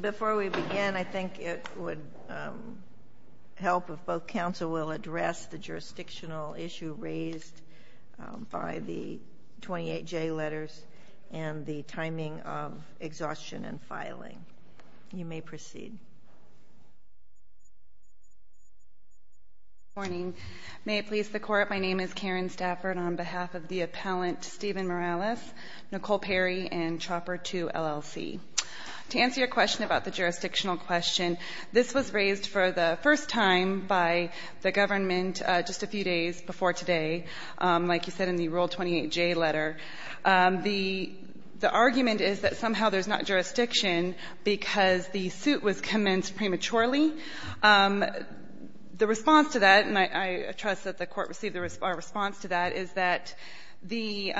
Before we begin, I think it would help if both counsel will address the jurisdictional issue raised by the 28J letters and the timing of exhaustion and filing. You may proceed. Good morning. May it please the Court, my name is Karen Stafford on behalf of the appellant Stephen Morales, Nicole Perry, and Chopper 2, LLC. To answer your question about the jurisdictional question, this was raised for the first time by the government just a few days before today, like you said, in the Rule 28J letter. The argument is that somehow there's not jurisdiction because the suit was commenced prematurely. The response to that, and I trust that the Court received a response to that, is that the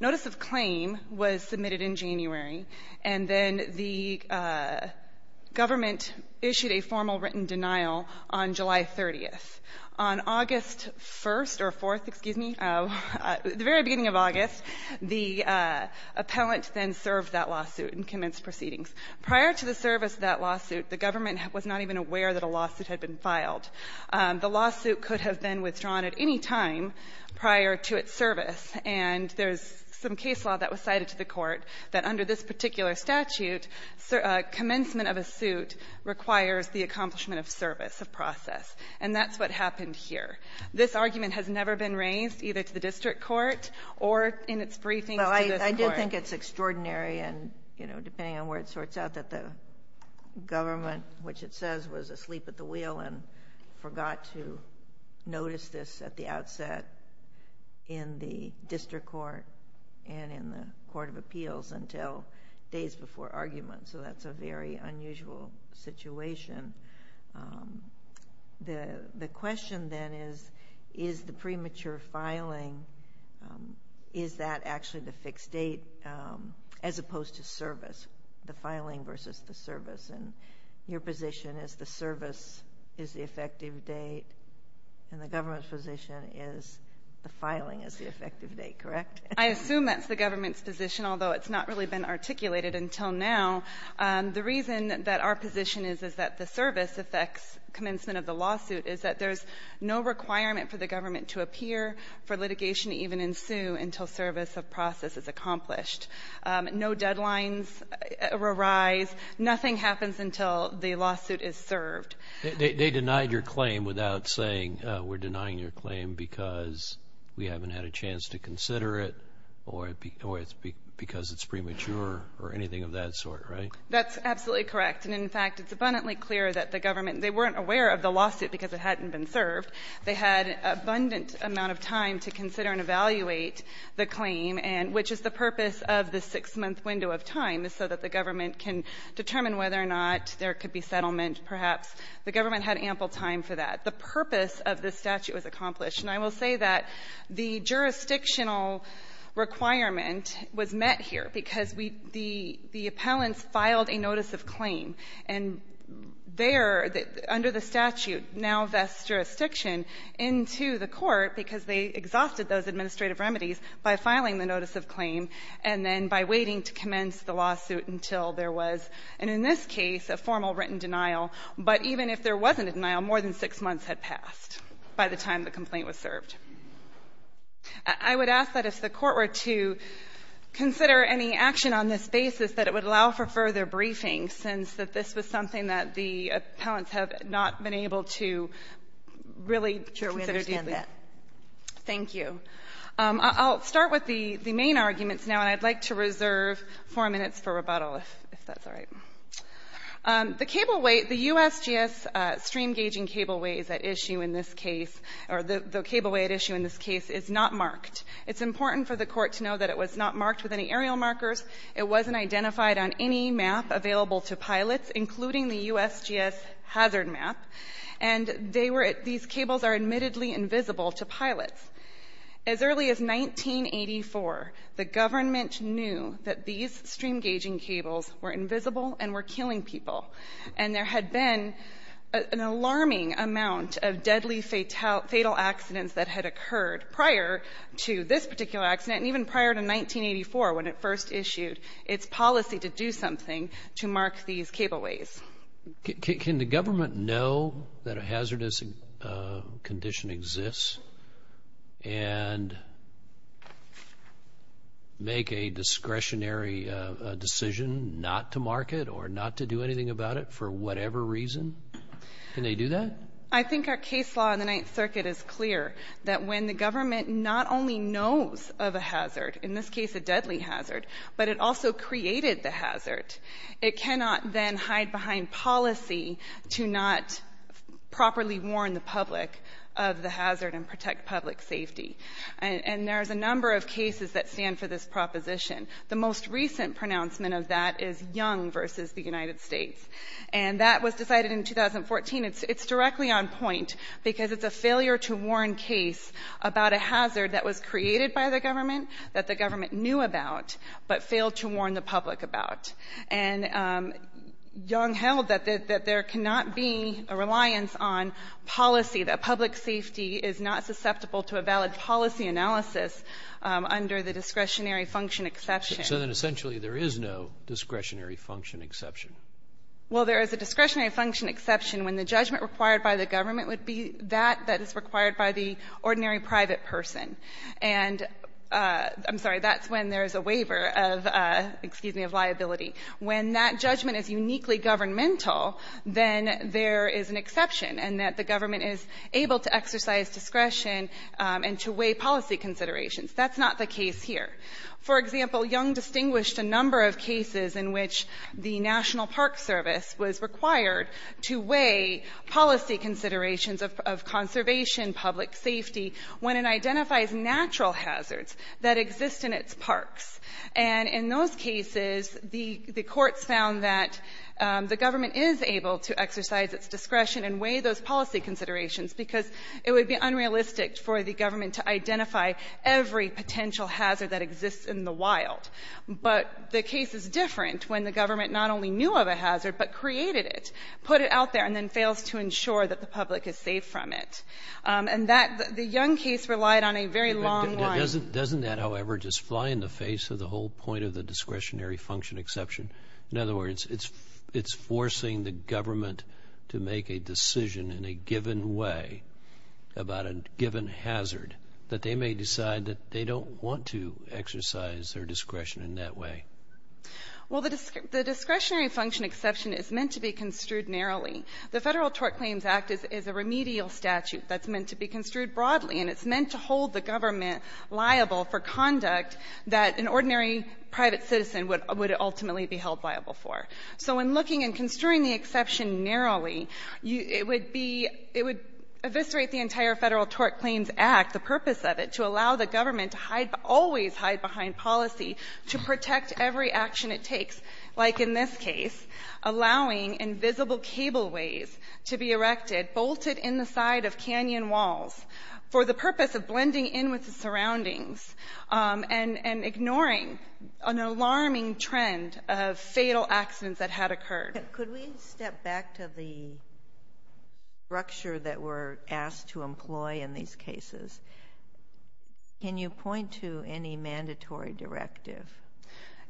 notice of claim was submitted in January, and then the government issued a formal written denial on July 30th. On August 1st or 4th, excuse me, the very beginning of August, the appellant then served that lawsuit and commenced proceedings. Prior to the service of that lawsuit, the government was not even aware that a lawsuit had been filed. The lawsuit could have been withdrawn at any time prior to its service, and there's some case law that was cited to the Court that under this particular statute, commencement of a suit requires the accomplishment of service, of process. And that's what happened here. This argument has never been raised, either to the district court or in its briefings to this Court. Well, I did think it's extraordinary, and, you know, depending on where it sorts out that the government, which it says was asleep at the wheel and forgot to notice this at the outset in the district court and in the Court of Appeals until days before argument, so that's a very unusual situation. The question then is, is the premature filing, is that actually the fixed date as opposed to service? The filing versus the service. And your position is the service is the effective date, and the government's position is the filing is the effective date, correct? I assume that's the government's position, although it's not really been articulated until now. The reason that our position is, is that the service affects commencement of the lawsuit is that there's no requirement for the government to appear for litigation to even ensue until service of process is accomplished. No deadlines arise. Nothing happens until the lawsuit is served. They denied your claim without saying, we're denying your claim because we haven't had a chance to consider it or because it's premature or anything of that sort, right? That's absolutely correct. And, in fact, it's abundantly clear that the government, they weren't aware of the lawsuit because it hadn't been served. They had an abundant amount of time to consider and evaluate the claim, which is the purpose of the six-month window of time, is so that the government can determine whether or not there could be settlement, perhaps. The government had ample time for that. The purpose of this statute was accomplished. And I will say that the jurisdictional requirement was met here because we — the appellants filed a notice of claim, and there, under the statute, now vests jurisdiction I would ask that if the Court were to consider any action on this basis that it would allow for further briefing, since this was something that the appellants have not been able to really consider deeply. Sure. We understand that. Thank you. We're going to get to the main arguments now, and I'd like to reserve four minutes for rebuttal, if that's all right. The cableway — the USGS stream-gaging cableways at issue in this case, or the cableway at issue in this case, is not marked. It's important for the Court to know that it was not marked with any aerial markers. It wasn't identified on any map available to pilots, including the USGS hazard map. And they were — these cables are admittedly invisible to pilots. As early as 1984, the government knew that these stream-gaging cables were invisible and were killing people. And there had been an alarming amount of deadly fatal accidents that had occurred prior to this particular accident, and even prior to 1984, when it first issued its policy to do something to mark these cableways. Can the government know that a hazardous condition exists and make a discretionary decision not to mark it or not to do anything about it for whatever reason? Can they do that? I think our case law in the Ninth Circuit is clear that when the government not only knows of a hazard — in this case, a deadly hazard — but it also created the hazard, it cannot then hide behind policy to not properly warn the public of the hazard and protect public safety. And there's a number of cases that stand for this proposition. The most recent pronouncement of that is Young v. the United States. And that was decided in 2014. It's directly on point because it's a failure to warn case about a hazard that was created by the government, that the government knew about, but failed to warn the public about. And Young held that there cannot be a reliance on policy, that public safety is not susceptible to a valid policy analysis under the discretionary function exception. So then essentially there is no discretionary function exception. Well, there is a discretionary function exception when the judgment required by the government would be that that is required by the ordinary private person. And I'm sorry, that's when there is a waiver of — excuse me — of liability. When that judgment is uniquely governmental, then there is an exception, and that the government is able to exercise discretion and to weigh policy considerations. That's not the case here. For example, Young distinguished a number of cases in which the National Park Service was required to weigh policy considerations of conservation, public safety, when it identifies natural hazards that exist in its parks. And in those cases, the courts found that the government is able to exercise its discretion and weigh those policy considerations because it would be unrealistic for the government to identify every potential hazard that exists in the wild. But the case is different when the government not only knew of a hazard, but created it, put it out there, and then fails to ensure that the public is safe from it. And that — the Young case relied on a very long line. Doesn't that, however, just fly in the face of the whole point of the discretionary function exception? In other words, it's forcing the government to make a decision in a given way about a given hazard that they may decide that they don't want to exercise their discretion in that way. Well, the discretionary function exception is meant to be construed narrowly. The Federal Tort Claims Act is a remedial statute that's meant to be construed broadly, and it's meant to hold the government liable for conduct that an ordinary private citizen would ultimately be held liable for. So in looking and construing the exception narrowly, it would be — it would eviscerate the entire Federal Tort Claims Act, the purpose of it, to allow the government to hide — always hide behind every action it takes, like in this case, allowing invisible cableways to be erected bolted in the side of canyon walls for the purpose of blending in with the surroundings and ignoring an alarming trend of fatal accidents that had occurred. Could we step back to the structure that we're asked to employ in these cases? Can you point to any mandatory directive?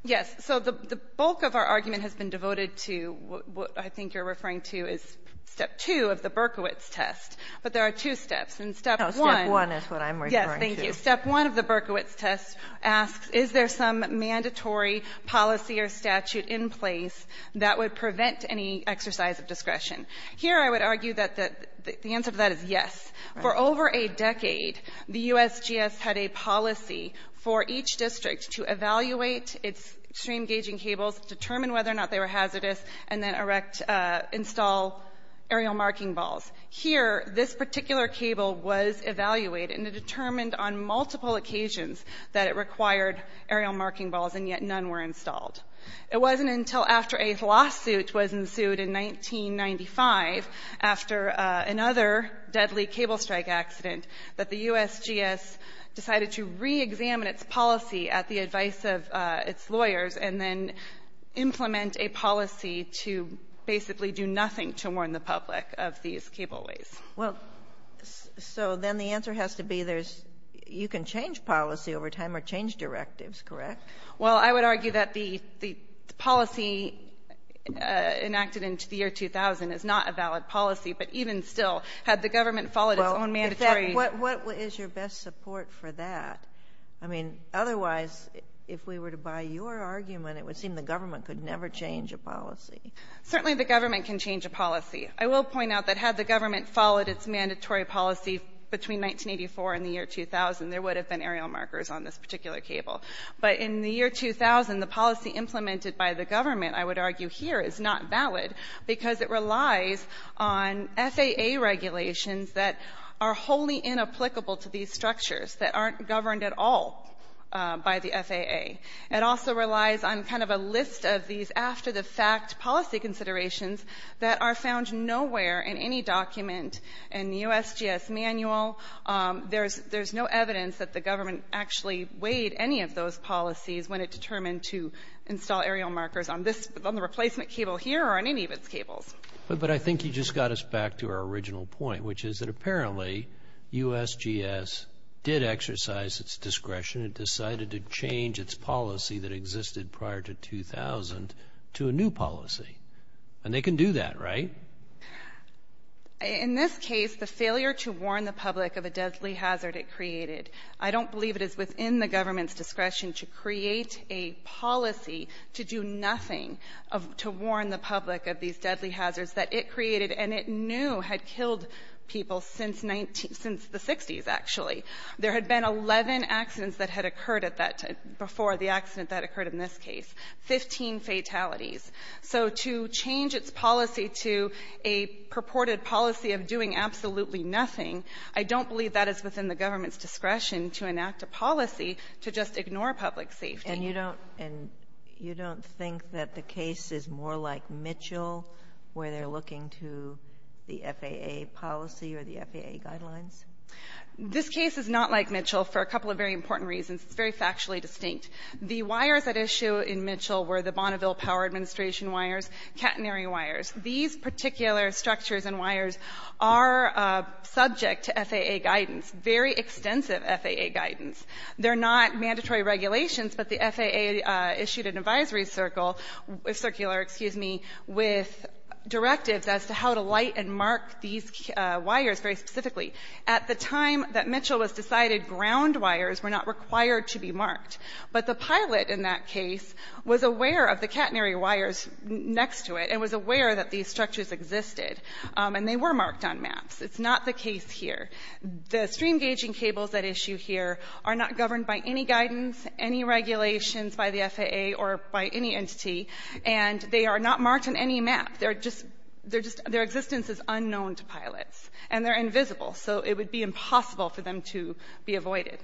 Yes. So the bulk of our argument has been devoted to what I think you're referring to is Step 2 of the Berkowitz test. But there are two steps. And Step 1 — No, Step 1 is what I'm referring to. Yes, thank you. Step 1 of the Berkowitz test asks, is there some mandatory policy or statute in place that would prevent any exercise of discretion? Here, I would argue that the answer to that is yes. For over a decade, the USGS had a policy for each district to evaluate its stream gauging cables, determine whether or not they were hazardous, and then erect — install aerial marking balls. Here, this particular cable was evaluated and it determined on multiple occasions that it required aerial marking balls, and yet none were installed. It wasn't until after a lawsuit was ensued in 1995, after the deadly cable strike accident, that the USGS decided to reexamine its policy at the advice of its lawyers and then implement a policy to basically do nothing to warn the public of these cableways. Well, so then the answer has to be there's — you can change policy over time or change directives, correct? Well, I would argue that the policy enacted into the year 2000 is not a valid policy, but even still, had the government followed its own mandatory — Well, in fact, what is your best support for that? I mean, otherwise, if we were to buy your argument, it would seem the government could never change a policy. Certainly the government can change a policy. I will point out that had the government followed its mandatory policy between 1984 and the year 2000, there would have been aerial markers on this particular cable. But in the year 2000, the policy implemented by the government, I would argue here, is not valid because it relies on FAA regulations that are wholly inapplicable to these structures, that aren't governed at all by the FAA. It also relies on kind of a list of these after-the-fact policy considerations that are found nowhere in any document in the USGS manual. There's — there's no evidence that the government actually weighed any of those policies when it determined to install aerial markers on this — on the replacement cable here or on any of its cables. But I think you just got us back to our original point, which is that apparently USGS did exercise its discretion and decided to change its policy that existed prior to 2000 to a new policy. And they can do that, right? In this case, the failure to warn the public of a deadly hazard it created, I don't believe it is within the government's discretion to create a policy to do nothing of — to warn the public of these deadly hazards that it created and it knew had killed people since 19 — since the 60s, actually. There had been 11 accidents that had occurred at that — before the accident that occurred in this case, 15 fatalities. So to change its policy to a purported policy of doing absolutely nothing, I don't believe that is within the government's discretion to enact a policy to just ignore public safety. And you don't — and you don't think that the case is more like Mitchell, where they're looking to the FAA policy or the FAA guidelines? This case is not like Mitchell for a couple of very important reasons. It's very factually distinct. The wires at issue in Mitchell were the Bonneville Power Administration wires, catenary wires. These particular structures and wires are subject to FAA guidance, very extensive FAA guidance. They're not mandatory regulations, but the FAA issued an advisory circle — circular, excuse me — with directives as to how to light and mark these wires very specifically. At the time that Mitchell was decided, ground wires were not required to be marked. But the pilot in that case was aware of the catenary wires next to it and was aware that these structures existed. And they were marked on maps. It's not the case here. The stream gauging cables at issue here are not governed by any guidance, any regulations by the FAA or by any entity, and they are not marked on any map. They're just — they're just — their existence is unknown to pilots, and they're invisible. So it would be impossible for them to be avoided.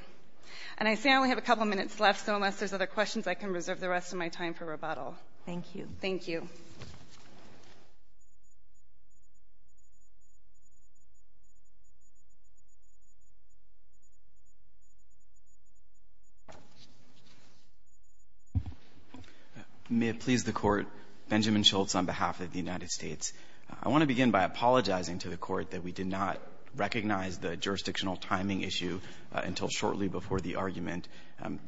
And I say I only have a couple of minutes left, so unless there's other questions, I can reserve the rest of my time for rebuttal. Thank you. Thank you. May it please the Court. Benjamin Schultz on behalf of the United States. I want to begin by apologizing to the Court that we did not recognize the jurisdictional timing issue until shortly before the argument.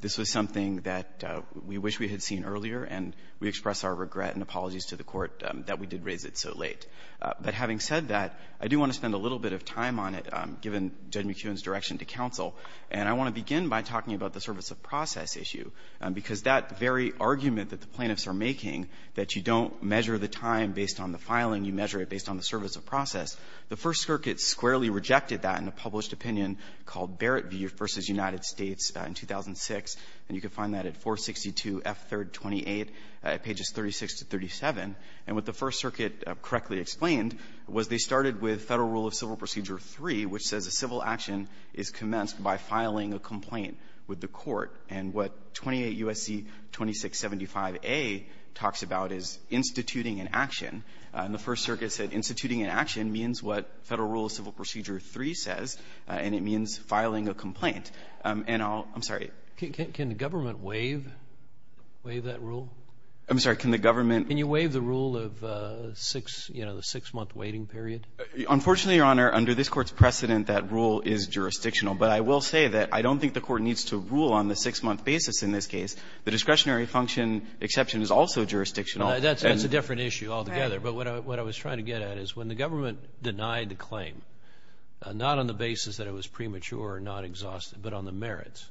This was something that we wish we had seen earlier, and we express our regret and apologies to the Court that we did raise it so late. But having said that, I do want to spend a little bit of time on it, given Judge McKeown's direction to counsel. And I want to begin by talking about the service of process issue, because that very argument that the plaintiffs are making, that you don't measure the time based on the filing, you measure it based on the service of process, the First Circuit squarely rejected that in a published opinion called Barrett v. United States in 2006, and you can find that at 462 F. 3rd, 28, pages 36 to 37. And what the First Circuit correctly explained was they started with Federal Rule of Civil Procedure 3, which says a civil action is commenced by filing a complaint with the Court. And what 28 U.S.C. 2675a talks about is instituting an action. And the First Circuit said instituting an action means what Federal Rule of Civil Procedure 3 says, and it means filing a complaint. And I'll — I'm sorry. Robertson, can the government waive — waive that rule? I'm sorry. Can the government — Can you waive the rule of six — you know, the six-month waiting period? Unfortunately, Your Honor, under this Court's precedent, that rule is jurisdictional. But I will say that I don't think the Court needs to rule on the six-month basis in this case. The discretionary function exception is also jurisdictional. That's a different issue altogether. Right. But what I was trying to get at is when the government denied the claim, not on the basis that it was premature or not exhaustive, but on the merits,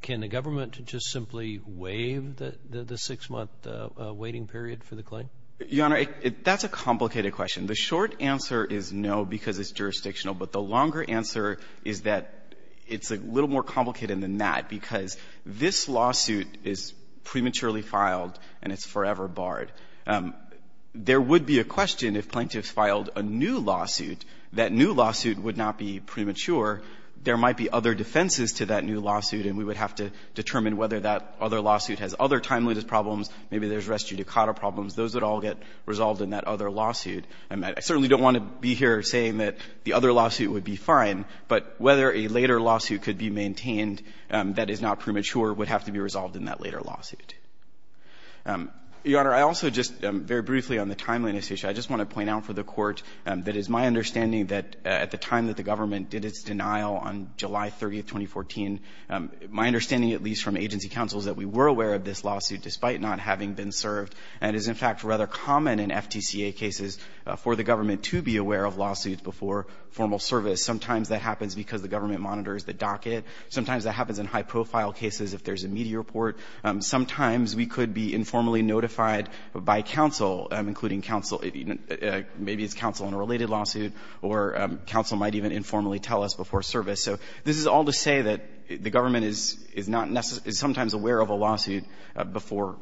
can the government just simply waive the six-month waiting period for the claim? Your Honor, that's a complicated question. The short answer is no, because it's jurisdictional. But the longer answer is that it's a little more complicated than that, because this lawsuit is prematurely filed and it's forever barred. There would be a question if plaintiffs filed a new lawsuit. That new lawsuit would not be premature. There might be other defenses to that new lawsuit, and we would have to determine whether that other lawsuit has other timeliness problems. Maybe there's res judicata problems. Those would all get resolved in that other lawsuit. I certainly don't want to be here saying that the other lawsuit would be fine, but whether a later lawsuit could be maintained that is not premature would have to be resolved in that later lawsuit. Your Honor, I also just very briefly on the timeliness issue, I just want to point out for the Court that it's my understanding that at the time that the government did its denial on July 30, 2014, my understanding, at least from agency counsels, that we were aware of this lawsuit despite not having been served, and it is, in fact, rather common in FTCA cases for the government to be aware of lawsuits before formal service. Sometimes that happens because the government monitors the docket. Sometimes that happens in high-profile cases if there's a media report. Sometimes we could be informally notified by counsel, including counsel, maybe it's counsel in a related lawsuit, or counsel might even informally tell us before service. So this is all to say that the government is not necessarily, is sometimes aware of a lawsuit before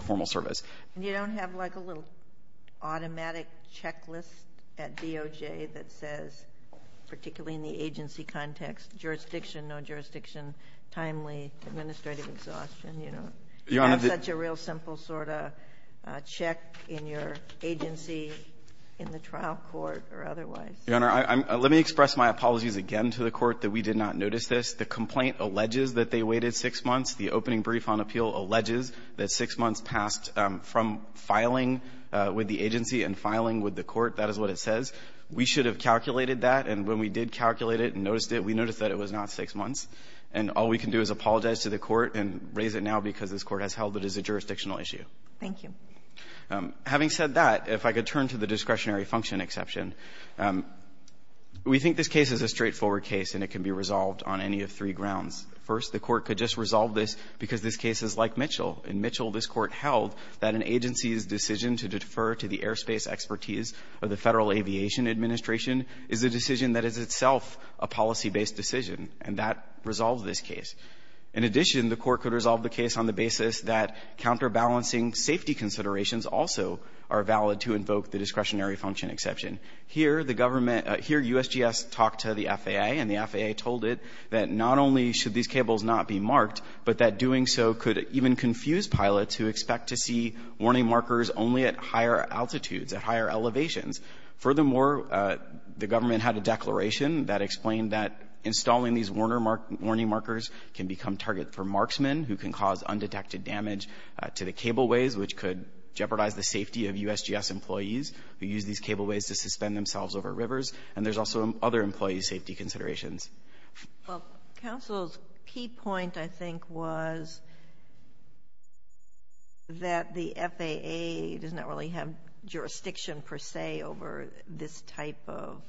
formal service. And you don't have, like, a little automatic checklist at DOJ that says, particularly in the agency context, jurisdiction, no jurisdiction, timely, administrative exhaustion. You have such a real simple sort of check in your agency in the trial court or otherwise. Your Honor, let me express my apologies again to the Court that we did not notice this. The complaint alleges that they waited six months. The opening brief on appeal alleges that six months passed from filing with the agency and filing with the Court. That is what it says. We should have calculated that. And when we did calculate it and noticed it, we noticed that it was not six months. And all we can do is apologize to the Court and raise it now because this Court has held it as a jurisdictional issue. Thank you. Having said that, if I could turn to the discretionary function exception. We think this case is a straightforward case, and it can be resolved on any of three grounds. First, the Court could just resolve this because this case is like Mitchell. In Mitchell, this Court held that an agency's decision to defer to the airspace expertise of the Federal Aviation Administration is a decision that is itself a policy-based decision, and that resolved this case. In addition, the Court could resolve the case on the basis that counterbalancing safety considerations also are valid to invoke the discretionary function exception. Here, the government — here, USGS talked to the FAA, and the FAA told it that not only should these cables not be marked, but that doing so could even confuse pilots who expect to see warning markers only at higher altitudes, at higher elevations. Furthermore, the government had a declaration that explained that installing these warner — warning markers can become target for marksmen, who can cause undetected damage to the cableways, which could jeopardize the safety of USGS employees who use these cableways to suspend themselves over rivers. And there's also other employee safety considerations. Well, counsel's key point, I think, was that the FAA does not really have jurisdiction, per se, over this type of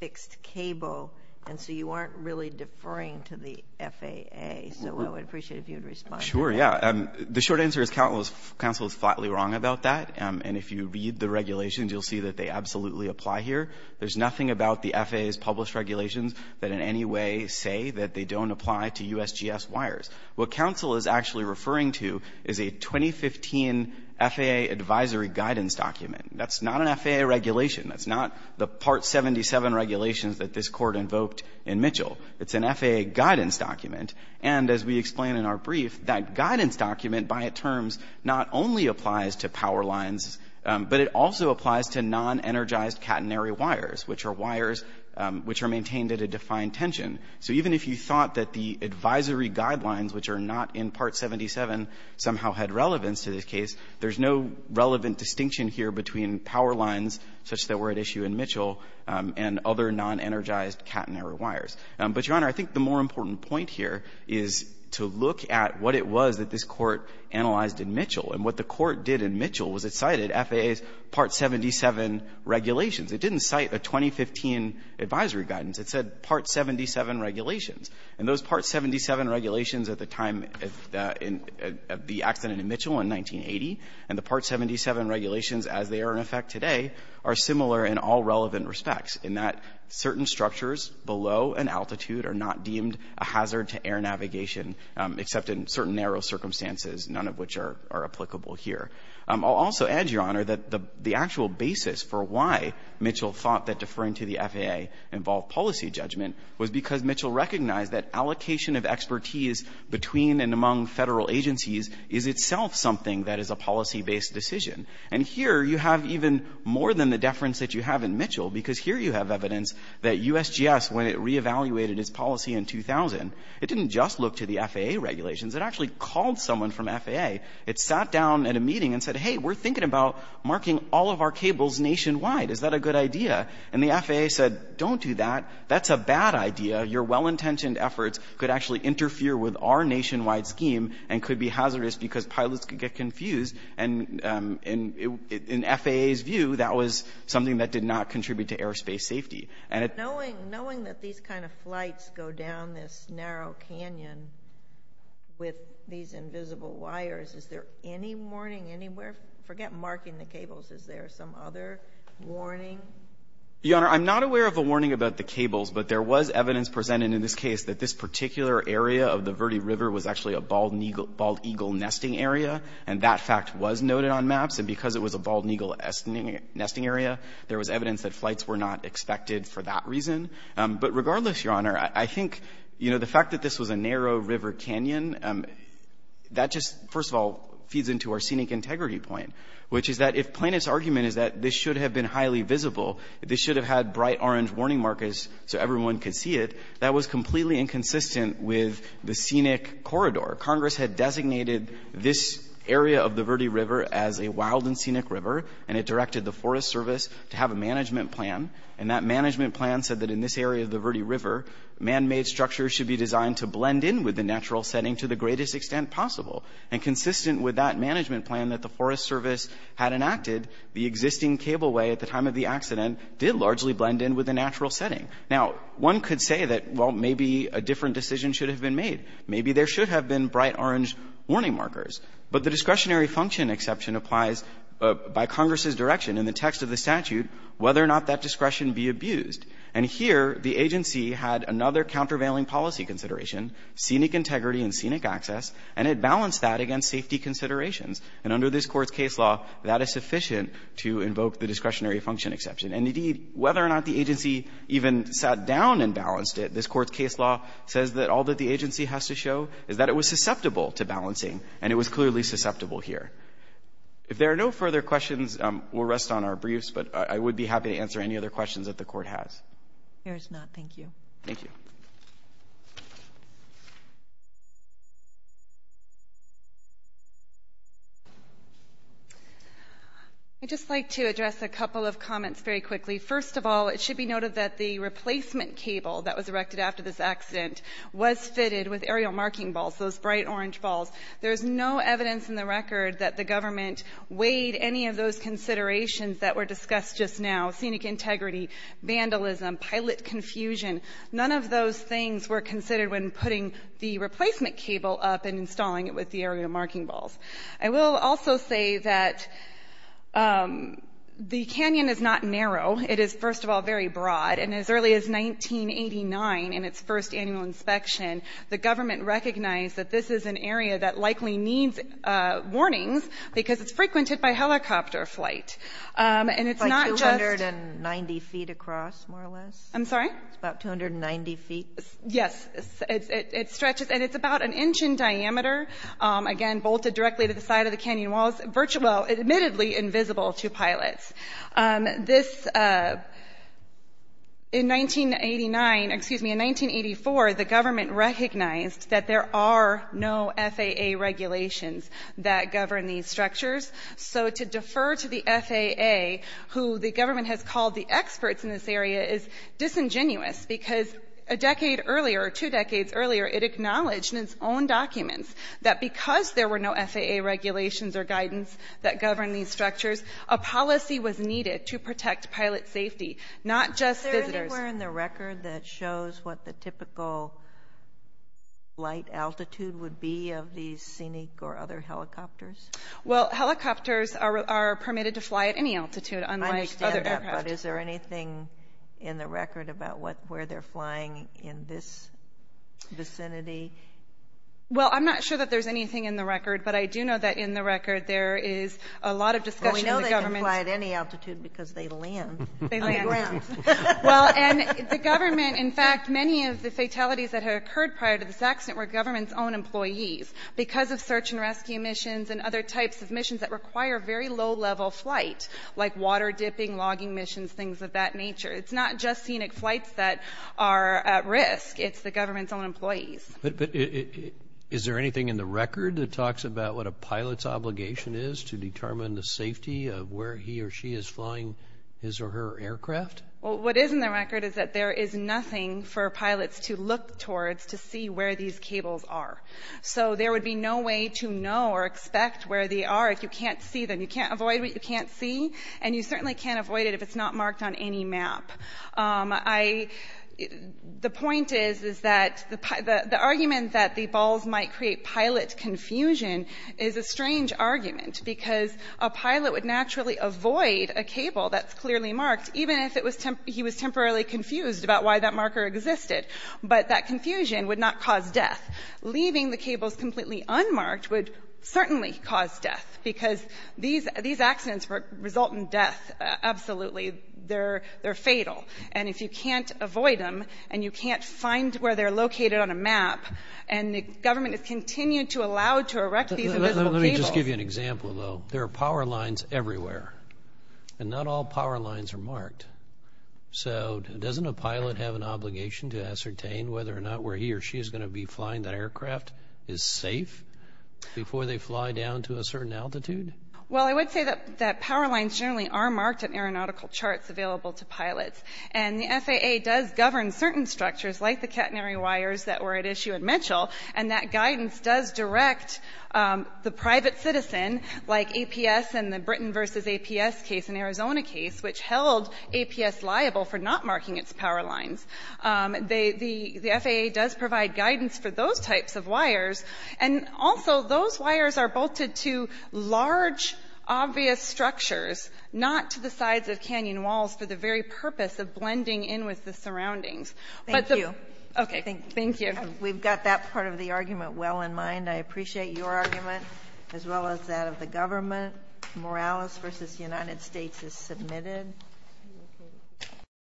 fixed cable, and so you aren't really deferring to the FAA, so I would appreciate if you would respond to that. Sure, yeah. The short answer is counsel is flatly wrong about that, and if you read the regulations, you'll see that they absolutely apply here. There's nothing about the FAA's published regulations that in any way say that they don't apply to USGS wires. What counsel is actually referring to is a 2015 FAA advisory guidance document. That's not an FAA regulation. That's not the Part 77 regulations that this Court invoked in Mitchell. It's an FAA guidance document, and as we explain in our brief, that guidance document, by its terms, not only applies to power lines, but it also applies to non-energized catenary wires, which are wires which are maintained at a defined tension. So even if you thought that the advisory guidelines, which are not in Part 77, somehow had relevance to this case, there's no relevant distinction here between power lines such that were at issue in Mitchell and other non-energized catenary wires. But, Your Honor, I think the more important point here is to look at what it was that this Court analyzed in Mitchell, and what the Court did in Mitchell was it cited FAA's Part 77 regulations. It didn't cite a 2015 advisory guidance. It said Part 77 regulations. And those Part 77 regulations at the time of the accident in Mitchell in 1980 and the Part 77 regulations as they are in effect today are similar in all relevant respects, in that certain structures below an altitude are not deemed a hazard to air navigation, except in certain narrow circumstances, none of which are applicable here. I'll also add, Your Honor, that the actual basis for why Mitchell thought that deferring to the FAA involved policy judgment was because Mitchell recognized that allocation of expertise between and among Federal agencies is itself something that is a policy-based decision. And here you have even more than the deference that you have in Mitchell, because here you have evidence that USGS, when it reevaluated its policy in 2000, it didn't just look to the FAA regulations. It actually called someone from FAA. It sat down at a meeting and said, Hey, we're thinking about marking all of our cables nationwide. Is that a good idea? And the FAA said, Don't do that. That's a bad idea. Your well-intentioned efforts could actually interfere with our nationwide scheme and could be hazardous because pilots could get confused. And in FAA's view, that was something that did not contribute to airspace safety. And it's... With these invisible wires, is there any warning anywhere? Forget marking the cables. Is there some other warning? Your Honor, I'm not aware of a warning about the cables, but there was evidence presented in this case that this particular area of the Verde River was actually a bald eagle nesting area, and that fact was noted on maps. And because it was a bald eagle nesting area, there was evidence that flights were not expected for that reason. But regardless, Your Honor, I think, you know, the fact that this was a narrow river canyon, that just, first of all, feeds into our scenic integrity point, which is that if plaintiff's argument is that this should have been highly visible, this should have had bright orange warning markers so everyone could see it, that was completely inconsistent with the scenic corridor. Congress had designated this area of the Verde River as a wild and scenic river, and it directed the Forest Service to have a management plan, and that management plan said that in this area of the Verde River, man-made structures should be designed to blend in with the natural setting to the greatest extent possible. And consistent with that management plan that the Forest Service had enacted, the existing cableway at the time of the accident did largely blend in with the natural setting. Now, one could say that, well, maybe a different decision should have been made. Maybe there should have been bright orange warning markers. But the discretionary function exception applies by Congress's direction in the text of the statute whether or not that discretion be abused. And here, the agency had another countervailing policy consideration, scenic integrity and scenic access, and it balanced that against safety considerations. And under this Court's case law, that is sufficient to invoke the discretionary function exception. And, indeed, whether or not the agency even sat down and balanced it, this Court's case law says that all that the agency has to show is that it was susceptible to balancing, and it was clearly susceptible here. If there are no further questions, we'll rest on our briefs. But I would be happy to answer any other questions that the Court has. MS. GOTTLIEB Here's not. Thank you. MR. GARGANO Thank you. MS. GOTTLIEB I'd just like to address a couple of comments very quickly. First of all, it should be noted that the replacement cable that was erected after this accident was fitted with aerial marking balls, those bright orange balls. There's no evidence in the record that the government weighed any of those considerations that were discussed just now, scenic integrity, vandalism, pilot confusion. None of those things were considered when putting the replacement cable up and installing it with the aerial marking balls. I will also say that the canyon is not narrow. It is, first of all, very broad. And as early as 1989, in its first annual inspection, the government recognized that this is an area that likely needs warnings because it's frequented by helicopter flight. And it's not just MS. GOTTLIEB It's like 290 feet across, more or less. MS. GOTTLIEB I'm sorry? GOTTLIEB It's about 290 feet. MS. GOTTLIEB Yes. It stretches. And it's about an inch in diameter. Again, bolted directly to the side of the canyon walls. Virtually, well, admittedly invisible to pilots. This, in 1989, excuse me, in 1984, the government recognized that there are, in fact, were no FAA regulations that govern these structures. So to defer to the FAA, who the government has called the experts in this area, is disingenuous. Because a decade earlier, two decades earlier, it acknowledged in its own documents that because there were no FAA regulations or guidance that govern these structures, a policy was needed to protect pilot safety, not just visitors. MS. GOTTLIEB Is there anywhere in the record that shows what the typical flight altitude would be of these Scenic or other helicopters? MS. GOTTLIEB Well, helicopters are permitted to fly at any altitude, unlike other aircraft. MS. GOTTLIEB I understand that. But is there anything in the record about what, where they're flying in this vicinity? MS. GOTTLIEB Well, I'm not sure that there's anything But I do know that in the record, there is a lot of discussion in the government. MS. GOTTLIEB Well, we know they can fly at any altitude because they land. MS. GOTTLIEB And the government, in fact, many of the fatalities that have occurred prior to this accident were government's own employees. Because of search and rescue missions and other types of missions that require very low-level flight, like water dipping, logging missions, things of that nature, it's not just Scenic flights that are at risk. It's the government's own employees. MS. GOTTLIEB But is there anything in the record that talks about what a pilot's obligation is to determine the safety of where he or she is flying his or her aircraft? MS. GOTTLIEB Well, what is in the record is that there is nothing for pilots to look towards to see where these cables are. So there would be no way to know or expect where they are if you can't see them. You can't avoid what you can't see. And you certainly can't avoid it if it's not marked on any map. The point is, is that the argument that the balls might create pilot confusion is a strange argument because a pilot would naturally avoid a cable that's clearly marked, even if it was temporarily confused about why that marker existed. But that confusion would not cause death. Leaving the cables completely unmarked would certainly cause death because these accidents result in death, absolutely. They're fatal. And if you can't avoid them, and you can't find where they're located on a map, and the government has continued to allow to erect these invisible cables. MR. HESSLER Let me just give you an example, though. There are power lines everywhere. And not all power lines are marked. So doesn't a pilot have an obligation to ascertain whether or not where he or she is going to be flying that aircraft is safe before they fly down to a certain altitude? MS. MCGREGOR Well, I would say that power lines generally are marked in aeronautical charts available to pilots. And the FAA does govern certain structures, like the catenary wires that were at issue at Mitchell. And that guidance does direct the private citizen, like APS and the Britain v. APS case in Arizona case, which held APS liable for not marking its power lines. The FAA does provide guidance for those types of wires. And also, those wires are bolted to large, obvious structures, not to the sides of canyon walls for the very purpose of blending in with the surroundings. But the MS. HESSLER Thank you. MS. MCGREGOR Okay. MS. HESSLER Thank you. MS. MCGREGOR Thank you. MS. MCGREGOR We've got that part of the argument well in mind. I appreciate your argument, as well as that of the government. Morales v. United States is submitted.